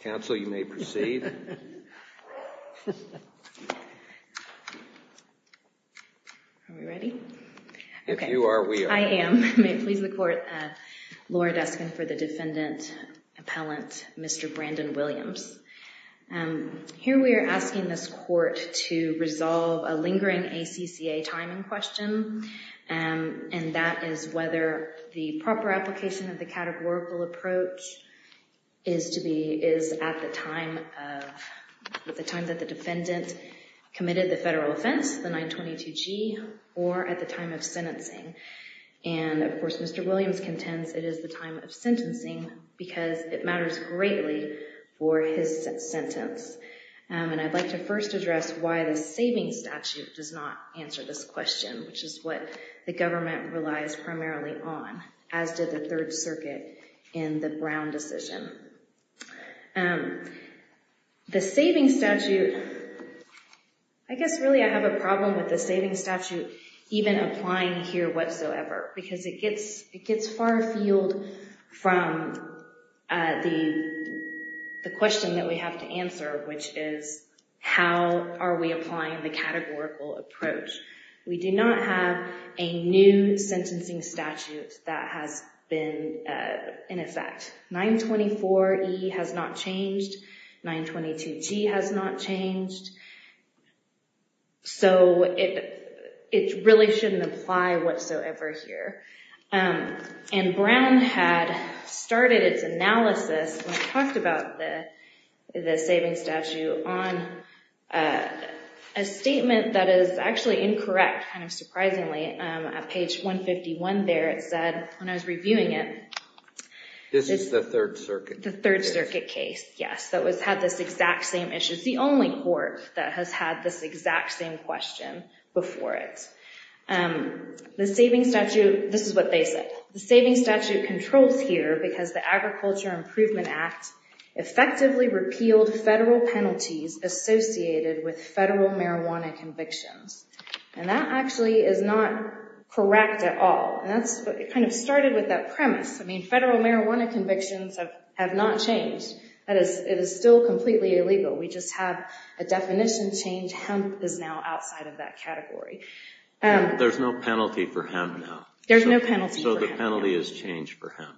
counsel, you may proceed. Are we ready? If you are, we are. I am. May it please the court. Laura Deskin for the defendant, appellant Mr. Brandon Williams. Here we are asking this question, and that is whether the proper application of the categorical approach is to be, is at the time of, at the time that the defendant committed the federal offense, the 922G, or at the time of sentencing. And of course Mr. Williams contends it is the time of sentencing because it matters greatly for his sentence. And I'd like to first address why the savings statute does not answer this question, which is what the government relies primarily on, as did the Third Circuit in the Brown decision. The savings statute, I guess really I have a problem with the savings statute even applying here whatsoever, because it gets, it gets far from the question that we have to answer, which is how are we applying the categorical approach. We do not have a new sentencing statute that has been in effect. 924E has not changed, 922G has not changed. So it, it really shouldn't apply whatsoever here. And Brown had started its analysis when I talked about the, the savings statute on a statement that is actually incorrect, kind of surprisingly. At page 151 there it said, when I was reviewing it, this is the Third Circuit case, yes, that was, had this exact same issue. It's the only court that has had this exact same question before it. The savings statute, this is what they said, the savings statute controls here because the Agriculture Improvement Act effectively repealed federal penalties associated with federal marijuana convictions. And that actually is not correct at all. And that's, it kind of started with that premise. I mean, federal marijuana convictions have, have not changed. That is, it is still completely illegal. We just have a definition change. Hemp is now outside of that category. There's no penalty for hemp now. There's no penalty. So the penalty has changed for hemp.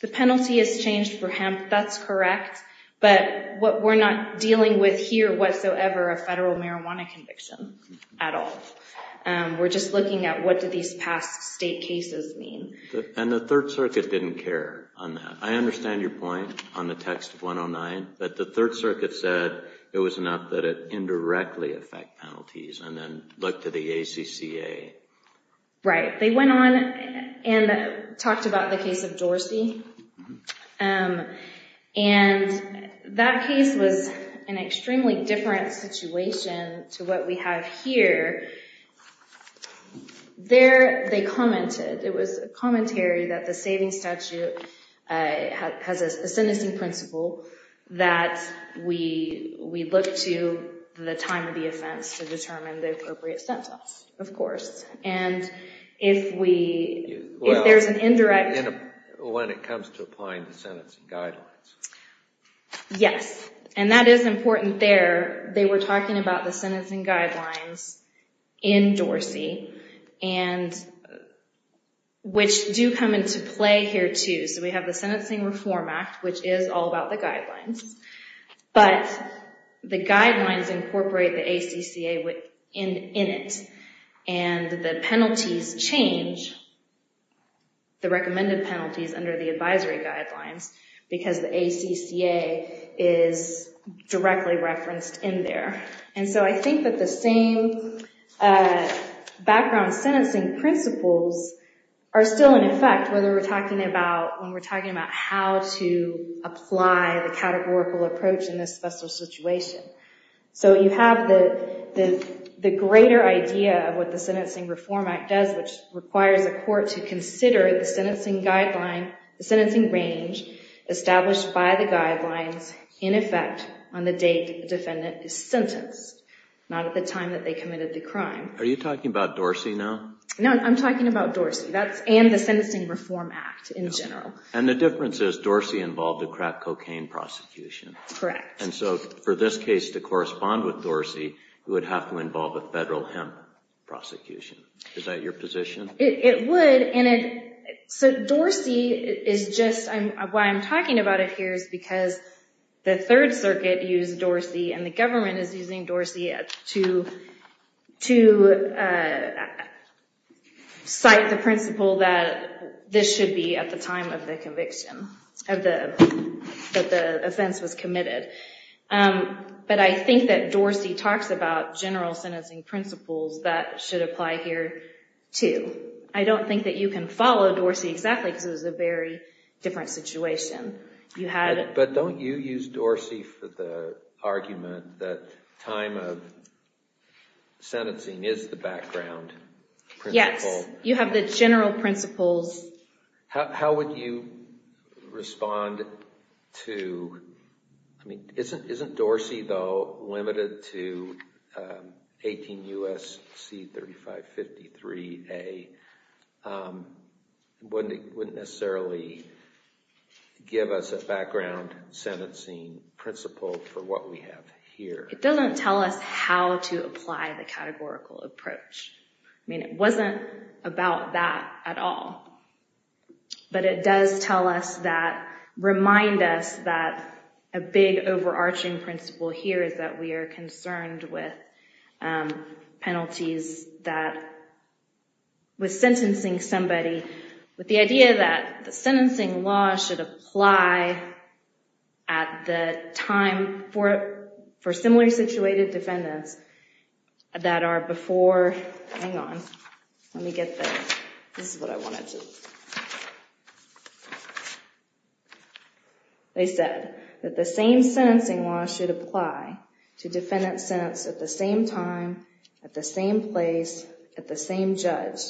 The penalty has changed for hemp, that's correct. But what we're not dealing with here whatsoever, a federal marijuana conviction at all. We're just looking at what do these past state cases mean. And the Third Circuit didn't care on that. I understand your point on the text of 109, but the Third Circuit said it was enough that it indirectly affect penalties. And then look to the ACCA. Right. They went on and talked about the case of Dorsey. And that case was an extremely different situation to what we have here. There they commented, it was a commentary that the savings statute has a sentencing principle that we, we look to the time of the offense to determine the appropriate sentence, of course. And if we, if there's an indirect. When it comes to applying the sentencing guidelines. Yes. And that is important there. They were talking about the sentencing guidelines in Dorsey and which do come into play here too. So we have the Sentencing Reform Act, which is all about the guidelines, but the guidelines incorporate the ACCA in it. And the penalties change, the recommended penalties under the advisory guidelines, because the ACCA is directly referenced in there. And so I think that the same background sentencing principles are still in effect, whether we're talking about, we're talking about how to apply the categorical approach in this special situation. So you have the greater idea of what the Sentencing Reform Act does, which requires a court to consider the sentencing guideline, the sentencing range established by the guidelines in effect on the date the defendant is sentenced, not at the time that they committed the crime. Are you talking about Dorsey now? No, I'm talking about Dorsey. That's, and the Sentencing Reform Act in general. And the difference is Dorsey involved a crack cocaine prosecution. Correct. And so for this case to correspond with Dorsey, it would have to involve a federal hemp prosecution. Is that your position? It would, and it, so Dorsey is just, why I'm talking about it here is because the Third Amendment does cite the principle that this should be at the time of the conviction, of the, that the offense was committed. But I think that Dorsey talks about general sentencing principles that should apply here, too. I don't think that you can follow Dorsey exactly, because it was a very different situation. You had... But don't you use Dorsey for the argument that time of sentencing is the background principle? Yes, you have the general principles. How would you respond to, I mean, isn't, isn't Dorsey, though, limited to 18 U.S.C. 3553 A? Wouldn't it, wouldn't necessarily give us a general sentencing principle for what we have here? It doesn't tell us how to apply the categorical approach. I mean, it wasn't about that at all. But it does tell us that, remind us that a big overarching principle here is that we are concerned with penalties that, with sentencing somebody, with the idea that the sentencing law should apply at the time for, for similarly situated defendants that are before, hang on, let me get the, this is what I wanted to, they said that the same sentencing law should apply to defendants sentenced at the same time, at the same place, at the same judge.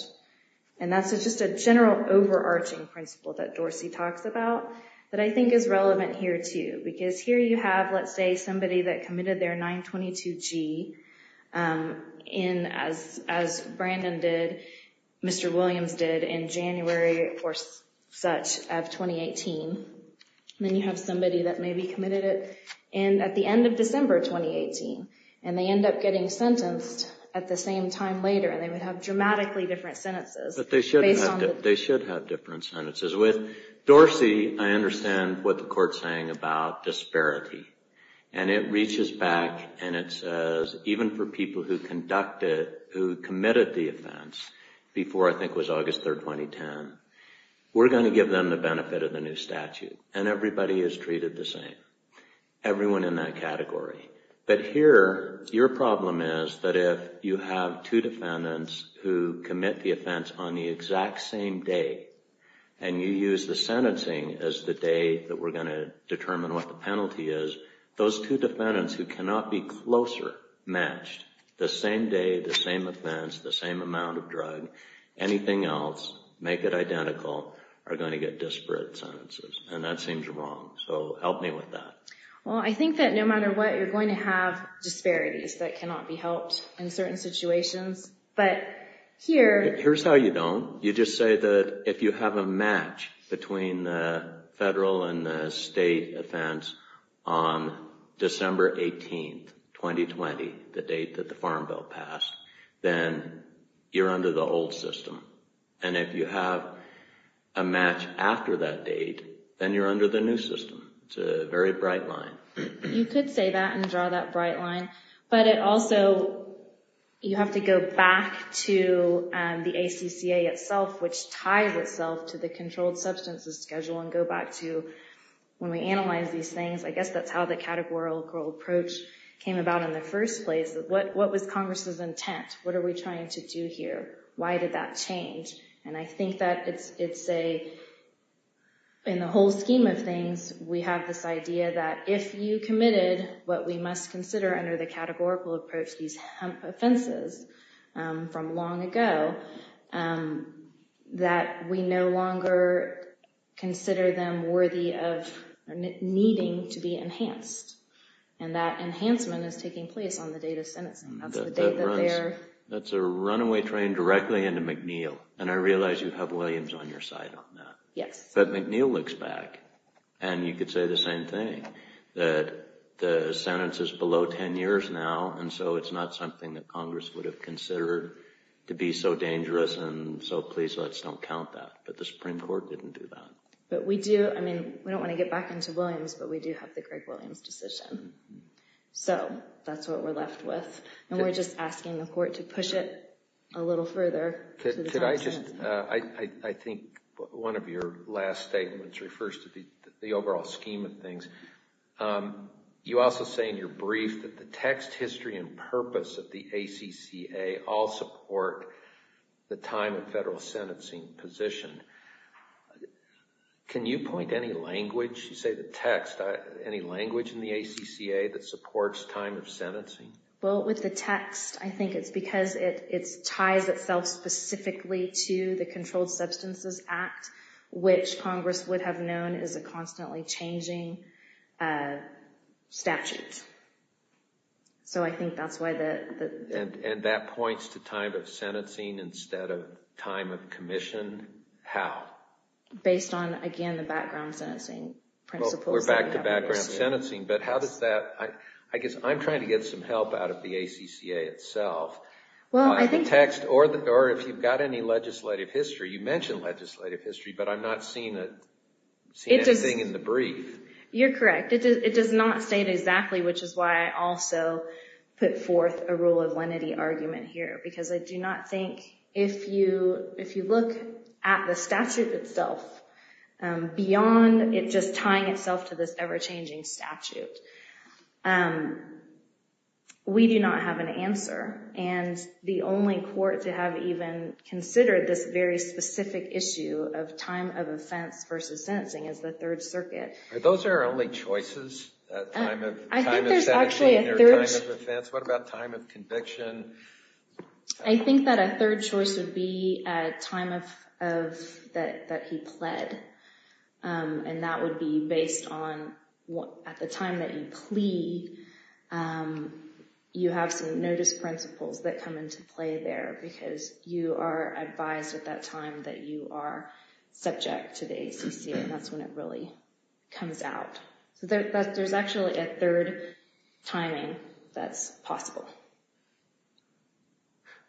And that's just a general overarching principle that Dorsey talks about that I think is relevant here, too, because here you have, let's say, somebody that committed their 922G in, as, as Brandon did, Mr. Williams did in January of 2012. And then you have somebody that maybe committed it in, at the end of December of 2018. And they end up getting sentenced at the same time later, and they would have dramatically different sentences, based on the- We're going to give them the benefit of the new statute. And everybody is treated the same. Everyone in that category. But here, your problem is that if you have two defendants who commit the offense on the exact same day, and you use the sentencing as the day that we're going to determine what the penalty is, those two defendants who cannot be closer matched, the same day, the same offense, the same amount of drug, anything else, make it identical, are going to get disparate sentences. And that seems wrong. So help me with that. Well, I think that no matter what, you're going to have disparities that cannot be helped in certain situations. But here- No, you just say that if you have a match between the federal and the state offense on December 18th, 2020, the date that the Farm Bill passed, then you're under the old system. And if you have a match after that date, then you're under the new system. It's a very bright line. You could say that and draw that bright line. But it also- you have to go back to the ACCA itself, which ties itself to the controlled substances schedule and go back to when we analyze these things. I guess that's how the categorical approach came about in the first place. What was Congress's intent? What are we trying to do here? Why did that change? And I think that it's a- in the whole scheme of things, we have this idea that if you committed what we must consider under the categorical approach, these hemp offenses from long ago, that we no longer consider them worthy of needing to be enhanced. And that enhancement is taking place on the date of sentencing. That's a runaway train directly into McNeil. And I realize you have Williams on your side on that. But McNeil looks back. And you could say the same thing, that the sentence is below 10 years now. And so it's not something that Congress would have considered to be so dangerous. And so please, let's don't count that. But the Supreme Court didn't do that. But we do- I mean, we don't want to get back into Williams, but we do have the Greg Williams decision. So that's what we're left with. And we're just asking the court to push it a little further. Could I just- I think one of your last statements refers to the overall scheme of things. You also say in your brief that the text, history, and purpose of the ACCA all support the time of federal sentencing position. Can you point to any language, you say the text, any language in the ACCA that supports time of sentencing? Well, with the text, I think it's because it ties itself specifically to the Controlled Substances Act, which Congress would have known is a constantly changing statute. So I think that's why the- And that points to time of sentencing instead of time of commission. How? Based on, again, the background sentencing principles that we have in place. But how does that- I guess I'm trying to get some help out of the ACCA itself on the text, or if you've got any legislative history. You mentioned legislative history, but I'm not seeing anything in the brief. You're correct. It does not state exactly, which is why I also put forth a rule of lenity argument here. Because I do not think- if you look at the statute itself, beyond it just tying itself to this ever-changing statute, we do not have an answer. And the only court to have even considered this very specific issue of time of offense versus sentencing is the Third Circuit. Are those our only choices? Time of sentencing or time of offense? What about time of conviction? I think that a third choice would be a time of- that he pled. And that would be based on, at the time that you plea, you have some notice principles that come into play there. Because you are advised at that time that you are subject to the ACCA. That's when it really comes out. So there's actually a third timing that's possible.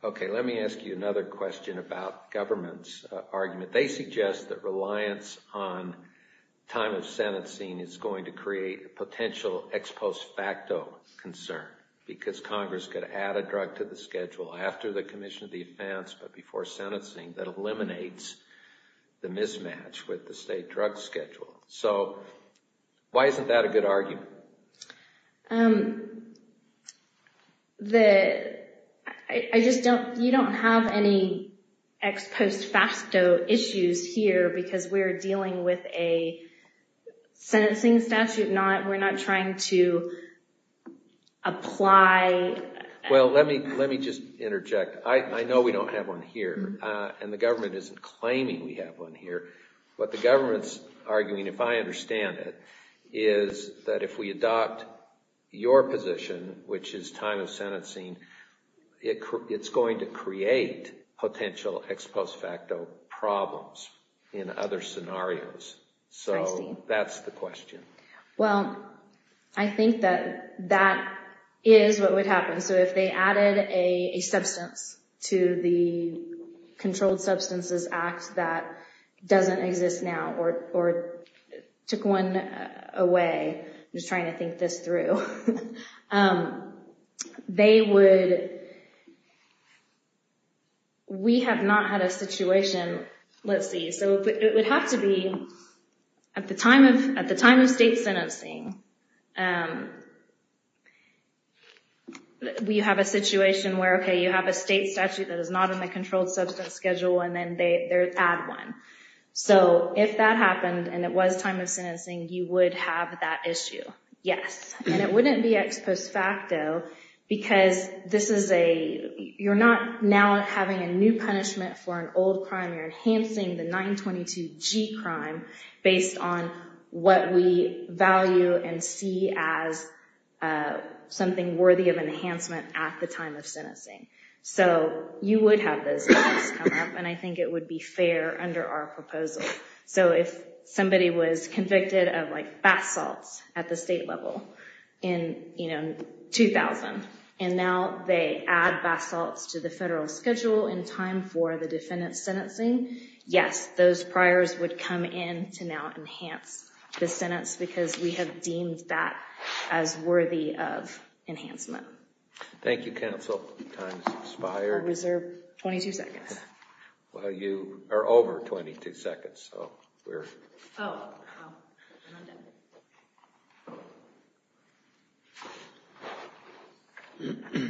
Okay, let me ask you another question about government's argument. They suggest that reliance on time of sentencing is going to create a potential ex post facto concern. Because Congress could add a drug to the schedule after the commission of the offense, but before sentencing, that eliminates the mismatch with the state drug schedule. So, why isn't that a good argument? Um, the- I just don't- you don't have any ex post facto issues here because we're dealing with a sentencing statute. We're not trying to apply- I see. So, that's the question. Well, I think that that is what would happen. So, if they added a substance to the Controlled Substances Act that doesn't exist now, or took one away from the statute, then that would create a potential ex post facto problem. I'm just trying to think this through. They would- we have not had a situation- let's see. So, it would have to be at the time of- at the time of state sentencing, we have a situation where, okay, you have a state statute that is not in the controlled substance schedule, and then they add one. So, if that happened, and it was time of sentencing, you would have that issue. Yes. And it wouldn't be ex post facto because this is a- you're not now having a new punishment for an old crime, you're enhancing the 922G crime based on what we value and see as something worthy of enhancement at the time of sentencing. So, you would have those issues come up, and I think it would be fair under our proposal. So, if somebody was convicted of, like, bath salts at the state level in, you know, 2000, and now they add bath salts to the federal schedule in time for the defendant's sentencing, yes, those priors would come in to now enhance the sentence because we have deemed that as worthy of enhancement. Thank you, counsel. Time's expired. I'll reserve 22 seconds. Well, you are over 22 seconds, so we're- Oh, I'm not done.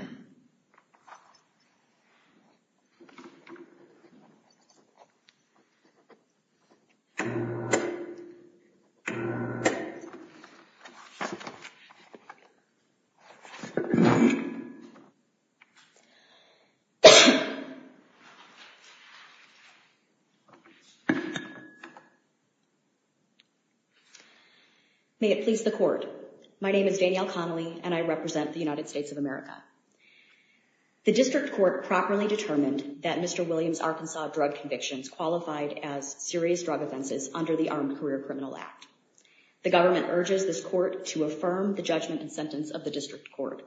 May it please the court. My name is Danielle Connelly, and I represent the United States of America. The district court properly determined that Mr. Williams' Arkansas drug convictions qualified as serious drug offenses under the Armed Career Criminal Act. The government urges this court to affirm the judgment and sentence of the district court.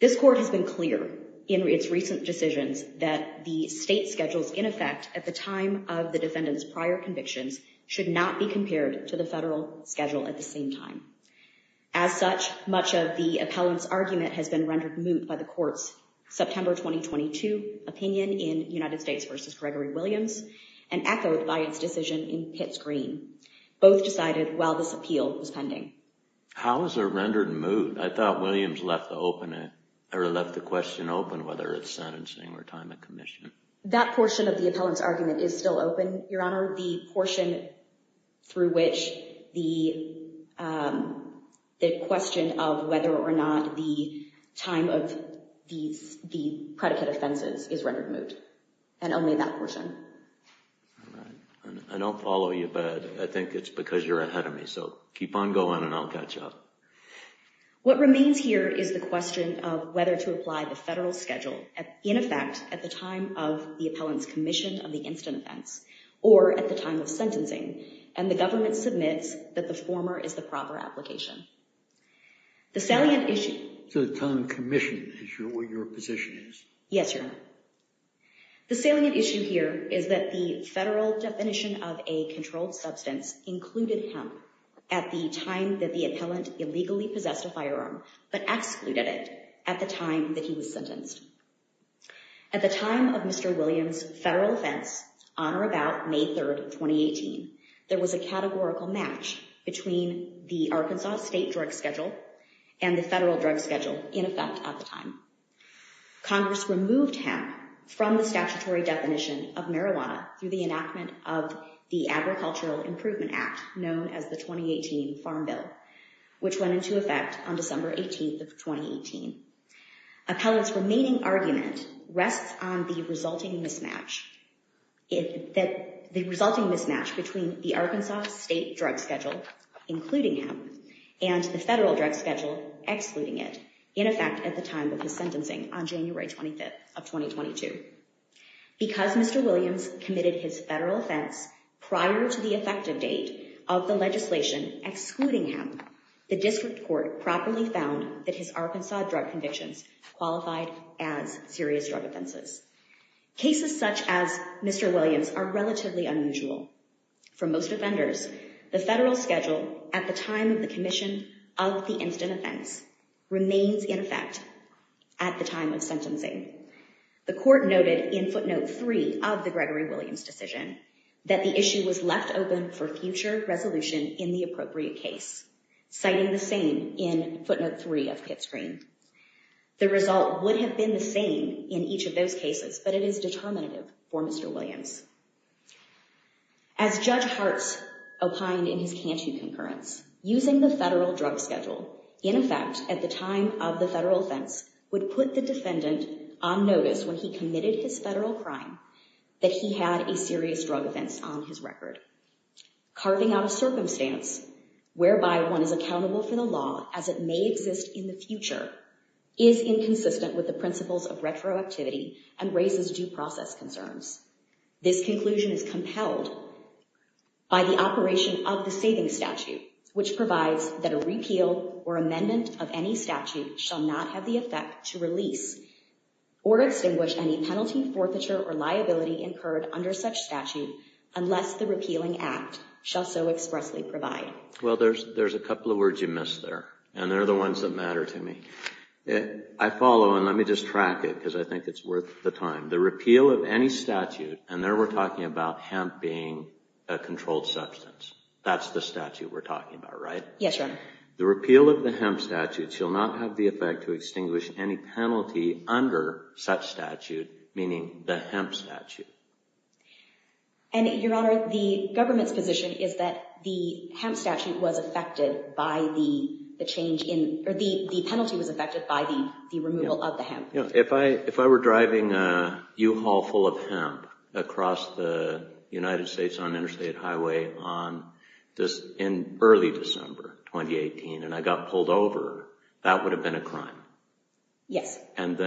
This court has been clear in its recent decisions that the state schedules in effect at the time of the defendant's prior convictions should not be compared to the federal schedule at the same time. As such, much of the appellant's argument has been rendered moot by the court's September 2022 opinion in United States v. Gregory Williams and echoed by its decision in Pitts Green. Both decided while this appeal was pending. How is it rendered moot? I thought Williams left the question open whether it's sentencing or time of commission. That portion of the appellant's argument is still open, Your Honor. The portion through which the question of whether or not the time of the predicate offenses is rendered moot, and only that portion. I don't follow you, but I think it's because you're ahead of me, so keep on going and I'll catch up. What remains here is the question of whether to apply the federal schedule in effect at the time of the appellant's commission of the incident events or at the time of sentencing, and the government submits that the former is the proper application. The salient issue... So the time of commission is what your position is? Yes, Your Honor. The salient issue here is that the federal definition of a controlled substance included hemp at the time that the appellant illegally possessed a firearm, but excluded it at the time that he was sentenced. At the time of Mr. Williams' federal offense, on or about May 3rd, 2018, there was a categorical match between the Arkansas state drug schedule and the federal drug schedule in effect at the time. Congress removed hemp from the statutory definition of marijuana through the enactment of the Agricultural Improvement Act, known as the 2018 Farm Bill, which went into effect on December 18th of 2018. Appellant's remaining argument rests on the resulting mismatch between the Arkansas state drug schedule, including hemp, and the federal drug schedule, excluding it, in effect at the time of his sentencing on January 25th of 2022. Because Mr. Williams committed his federal offense prior to the effective date of the legislation excluding hemp, the district court properly found that his Arkansas drug convictions qualified as serious drug offenses. Cases such as Mr. Williams are relatively unusual. For most offenders, the federal schedule at the time of the commission of the incident offense remains in effect at the time of sentencing. The court noted in footnote three of the Gregory Williams decision that the issue was left open for future resolution in the appropriate case, citing the same in footnote three of Pitt's Green. The result would have been the same in each of those cases, but it is determinative for Mr. Williams. As Judge Hartz opined in his Cantu concurrence, using the federal drug schedule, in effect at the time of the federal offense, would put the defendant on notice when he committed his federal crime that he had a serious drug offense on his record. Carving out a circumstance whereby one is accountable for the law as it may exist in the future is inconsistent with the principles of retroactivity and raises due process concerns. This conclusion is compelled by the operation of the saving statute, which provides that a repeal or amendment of any statute shall not have the effect to release or extinguish any penalty, forfeiture, or liability incurred under such statute unless the repealing act shall so expressly provide. Well, there's a couple of words you missed there, and they're the ones that matter to me. I follow, and let me just track it because I think it's worth the time. The repeal of any statute, and there we're talking about hemp being a controlled substance. That's the statute we're talking about, right? Yes, Your Honor. The repeal of the hemp statute shall not have the effect to extinguish any penalty under such statute, meaning the hemp statute. And, Your Honor, the government's position is that the hemp statute was affected by the change in, or the penalty was affected by the removal of the hemp. If I were driving a U-Haul full of hemp across the United States on an interstate highway in early December 2018 and I got pulled over, that would have been a crime. Yes. And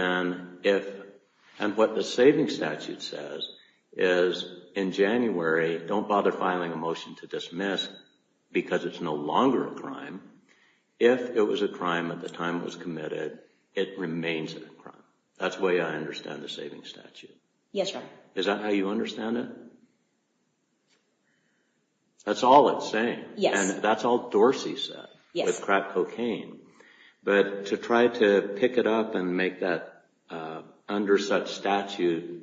what the saving statute says is, in January, don't bother filing a motion to dismiss because it's no longer a crime. If it was a crime at the time it was committed, it remains a crime. That's the way I understand the saving statute. Yes, Your Honor. Is that how you understand it? That's all it's saying. Yes. And that's all Dorsey said. Yes. With crap cocaine. But to try to pick it up and make that under such statute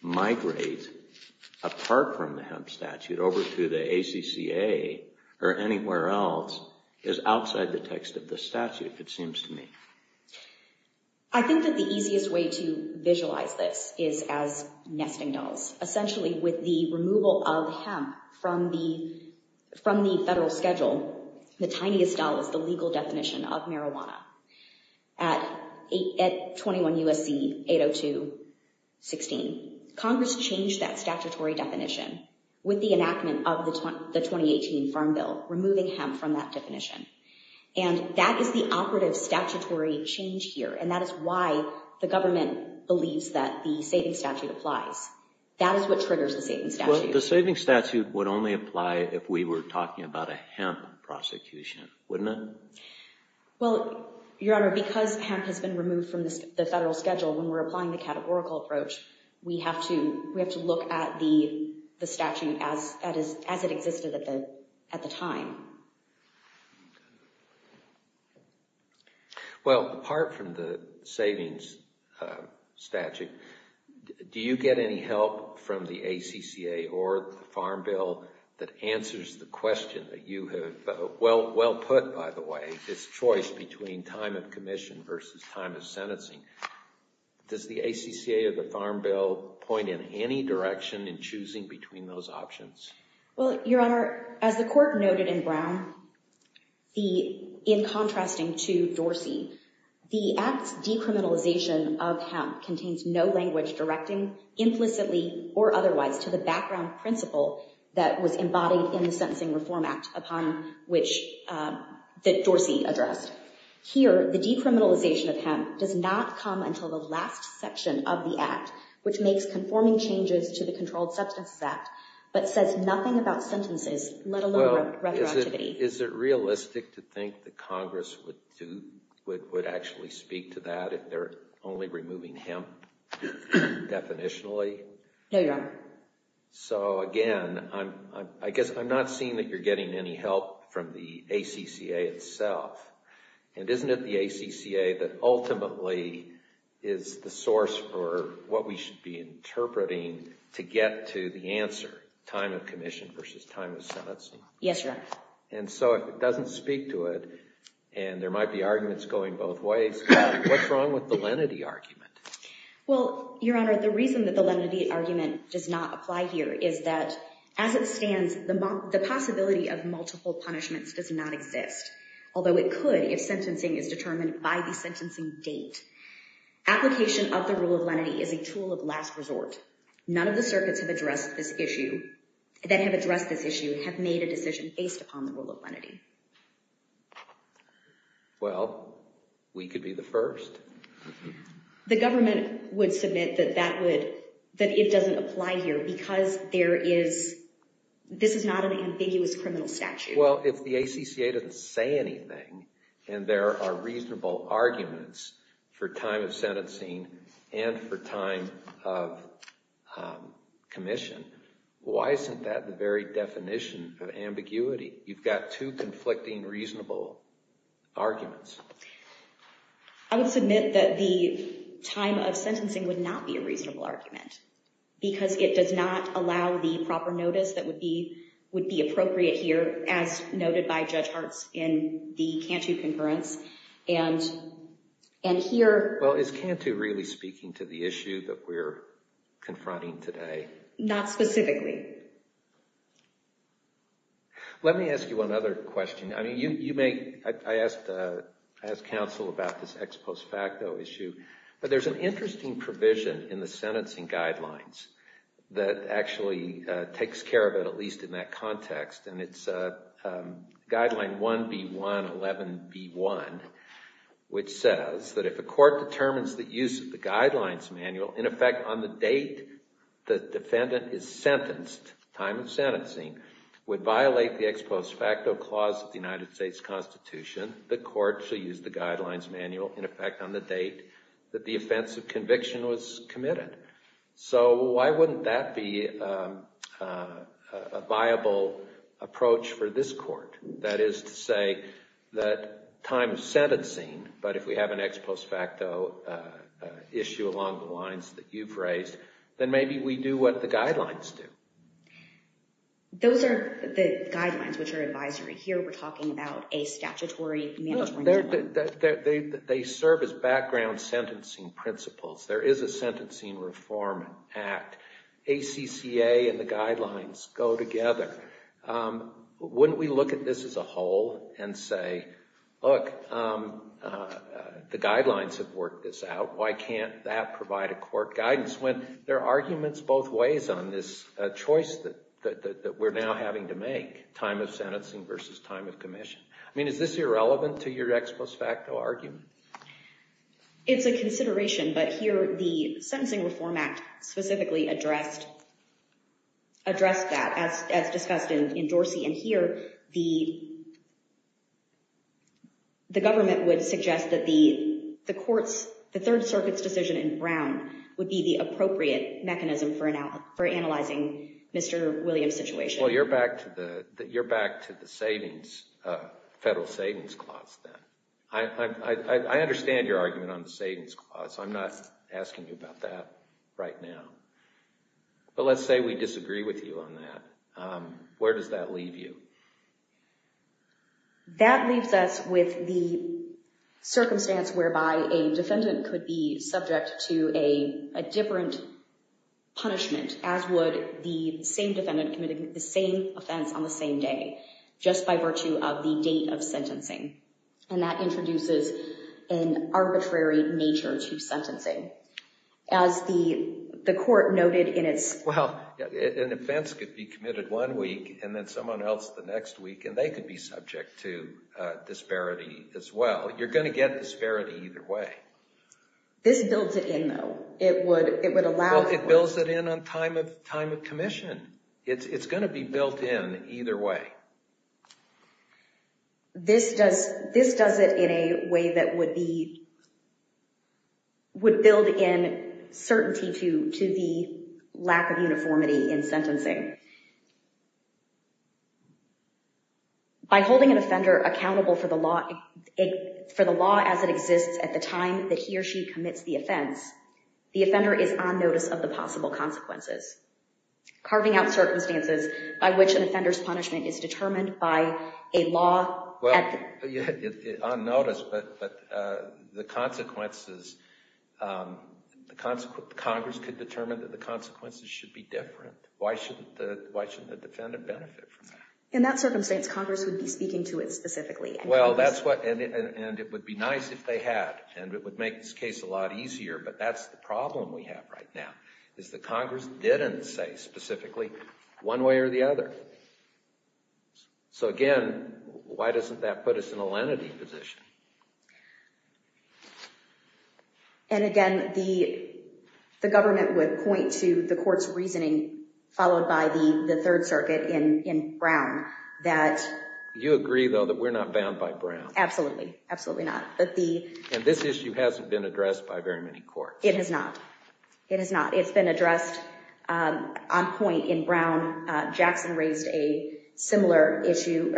migrate apart from the hemp statute over to the ACCA or anywhere else is outside the text of the statute, it seems to me. I think that the easiest way to visualize this is as nesting dolls. Essentially, with the removal of hemp from the federal schedule, the tiniest doll is the legal definition of marijuana. At 21 U.S.C. 802.16, Congress changed that statutory definition with the enactment of the 2018 Farm Bill, removing hemp from that definition. And that is the operative statutory change here. And that is why the government believes that the saving statute applies. That is what triggers the saving statute. The saving statute would only apply if we were talking about a hemp prosecution, wouldn't it? Well, Your Honor, because hemp has been removed from the federal schedule, when we're applying the categorical approach, we have to look at the statute as it existed at the time. Well, apart from the savings statute, do you get any help from the ACCA or the Farm Bill that answers the question that you have well put, by the way, this choice between time of commission versus time of sentencing? Does the ACCA or the Farm Bill point in any direction in choosing between those options? Well, Your Honor, as the Court noted in Brown, in contrasting to Dorsey, the Act's decriminalization of hemp contains no language directing implicitly or otherwise to the background principle that was embodied in the Sentencing Reform Act upon which Dorsey addressed. Here, the decriminalization of hemp does not come until the last section of the Act, which makes conforming changes to the Controlled Substances Act, but says nothing about sentences, let alone retroactivity. Is it realistic to think that Congress would actually speak to that if they're only removing hemp definitionally? No, Your Honor. So, again, I guess I'm not seeing that you're getting any help from the ACCA itself. And isn't it the ACCA that ultimately is the source for what we should be interpreting to get to the answer, time of commission versus time of sentencing? Yes, Your Honor. And so if it doesn't speak to it, and there might be arguments going both ways, what's wrong with the lenity argument? Well, Your Honor, the reason that the lenity argument does not apply here is that as it could if sentencing is determined by the sentencing date. Application of the rule of lenity is a tool of last resort. None of the circuits that have addressed this issue have made a decision based upon the rule of lenity. Well, we could be the first. The government would submit that it doesn't apply here because this is not an ambiguous criminal statute. Well, if the ACCA doesn't say anything and there are reasonable arguments for time of sentencing and for time of commission, why isn't that the very definition of ambiguity? You've got two conflicting reasonable arguments. I would submit that the time of sentencing would not be a reasonable argument because it does not allow the proper notice that would be appropriate here, as noted by Judge Hartz in the Cantu Concurrence. Well, is Cantu really speaking to the issue that we're confronting today? Not specifically. Let me ask you another question. I asked counsel about this ex post facto issue, but there's an interesting provision in the statute that actually takes care of it, at least in that context. And it's guideline 1B1, 11B1, which says that if a court determines the use of the guidelines manual in effect on the date the defendant is sentenced, time of sentencing, would violate the ex post facto clause of the United States Constitution, the court should use the guidelines manual in effect on the date that the offense of conviction was committed. So why wouldn't that be a viable approach for this court? That is to say that time of sentencing, but if we have an ex post facto issue along the lines that you've raised, then maybe we do what the guidelines do. Those are the guidelines, which are advisory. Here, we're talking about a statutory mandatory. They serve as background sentencing principles. There is a sentencing reform act. ACCA and the guidelines go together. Wouldn't we look at this as a whole and say, look, the guidelines have worked this out. Why can't that provide a court guidance? When there are arguments both ways on this choice that we're now having to make, time of sentencing versus time of commission. I mean, is this irrelevant to your ex post facto argument? It's a consideration, but here, the sentencing reform act specifically addressed that, as discussed in Dorsey. And here, the government would suggest that the court's, the Third Circuit's decision in Brown would be the appropriate mechanism for analyzing Mr. Williams' situation. Well, you're back to the federal savings clause then. I understand your argument on the savings clause. I'm not asking you about that right now. But let's say we disagree with you on that. Where does that leave you? That leaves us with the circumstance whereby a defendant could be subject to a different punishment, as would the same defendant committed the same offense on the same day, just by virtue of the date of sentencing. And that introduces an arbitrary nature to sentencing. As the court noted in its... Well, an offense could be committed one week, and then someone else the next week, and they could be subject to disparity as well. You're going to get disparity either way. This builds it in, though. It would allow... Well, it builds it in on time of commission. It's going to be built in either way. This does it in a way that would build in certainty to the lack of uniformity in sentencing. By holding an offender accountable for the law as it exists at the time that he or she commits the offense, the offender is on notice of the possible consequences. Carving out circumstances by which an offender's punishment is determined by a law... On notice, but the consequences... Congress could determine that the consequences should be different. Why shouldn't the defendant benefit from that? In that circumstance, Congress would be speaking to it specifically. Well, that's what... And it would be nice if they had, and it would make this case a lot easier. But that's the problem we have right now, is that Congress didn't say specifically one way or the other. So again, why doesn't that put us in a lenity position? And again, the government would point to the court's reasoning, followed by the Third Circuit in Brown, that... You agree, though, that we're not bound by Brown? Absolutely. Absolutely not. And this issue hasn't been addressed by very many courts. It has not. It has not. It's been addressed on point in Brown. Jackson raised a similar issue,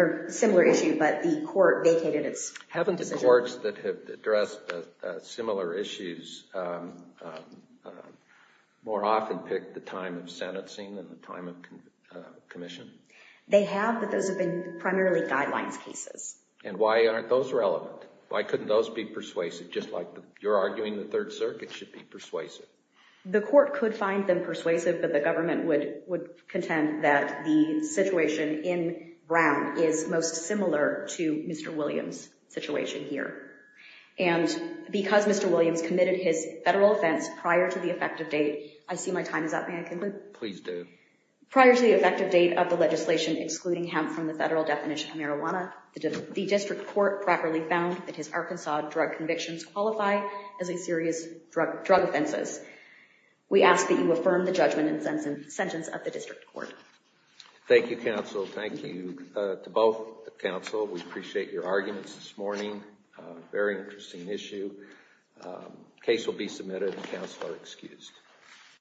but the court vacated its decision. Haven't the courts that have addressed similar issues more often picked the time of sentencing than the time of commission? They have, but those have been primarily guidelines cases. And why aren't those relevant? Why couldn't those be persuasive, just like you're arguing the Third Circuit should be persuasive? The court could find them persuasive, but the government would contend that the situation in Brown is most similar to Mr. Williams' situation here. And because Mr. Williams committed his federal offense prior to the effective date... I see my time is up. May I conclude? Please do. Prior to the effective date of the legislation excluding hemp from the federal definition of marijuana, the district court properly found that his Arkansas drug convictions qualify as a serious drug offenses. We ask that you affirm the judgment and sentence of the district court. Thank you, counsel. Thank you to both counsel. We appreciate your arguments this morning. Very interesting issue. Case will be submitted. Counsel are excused.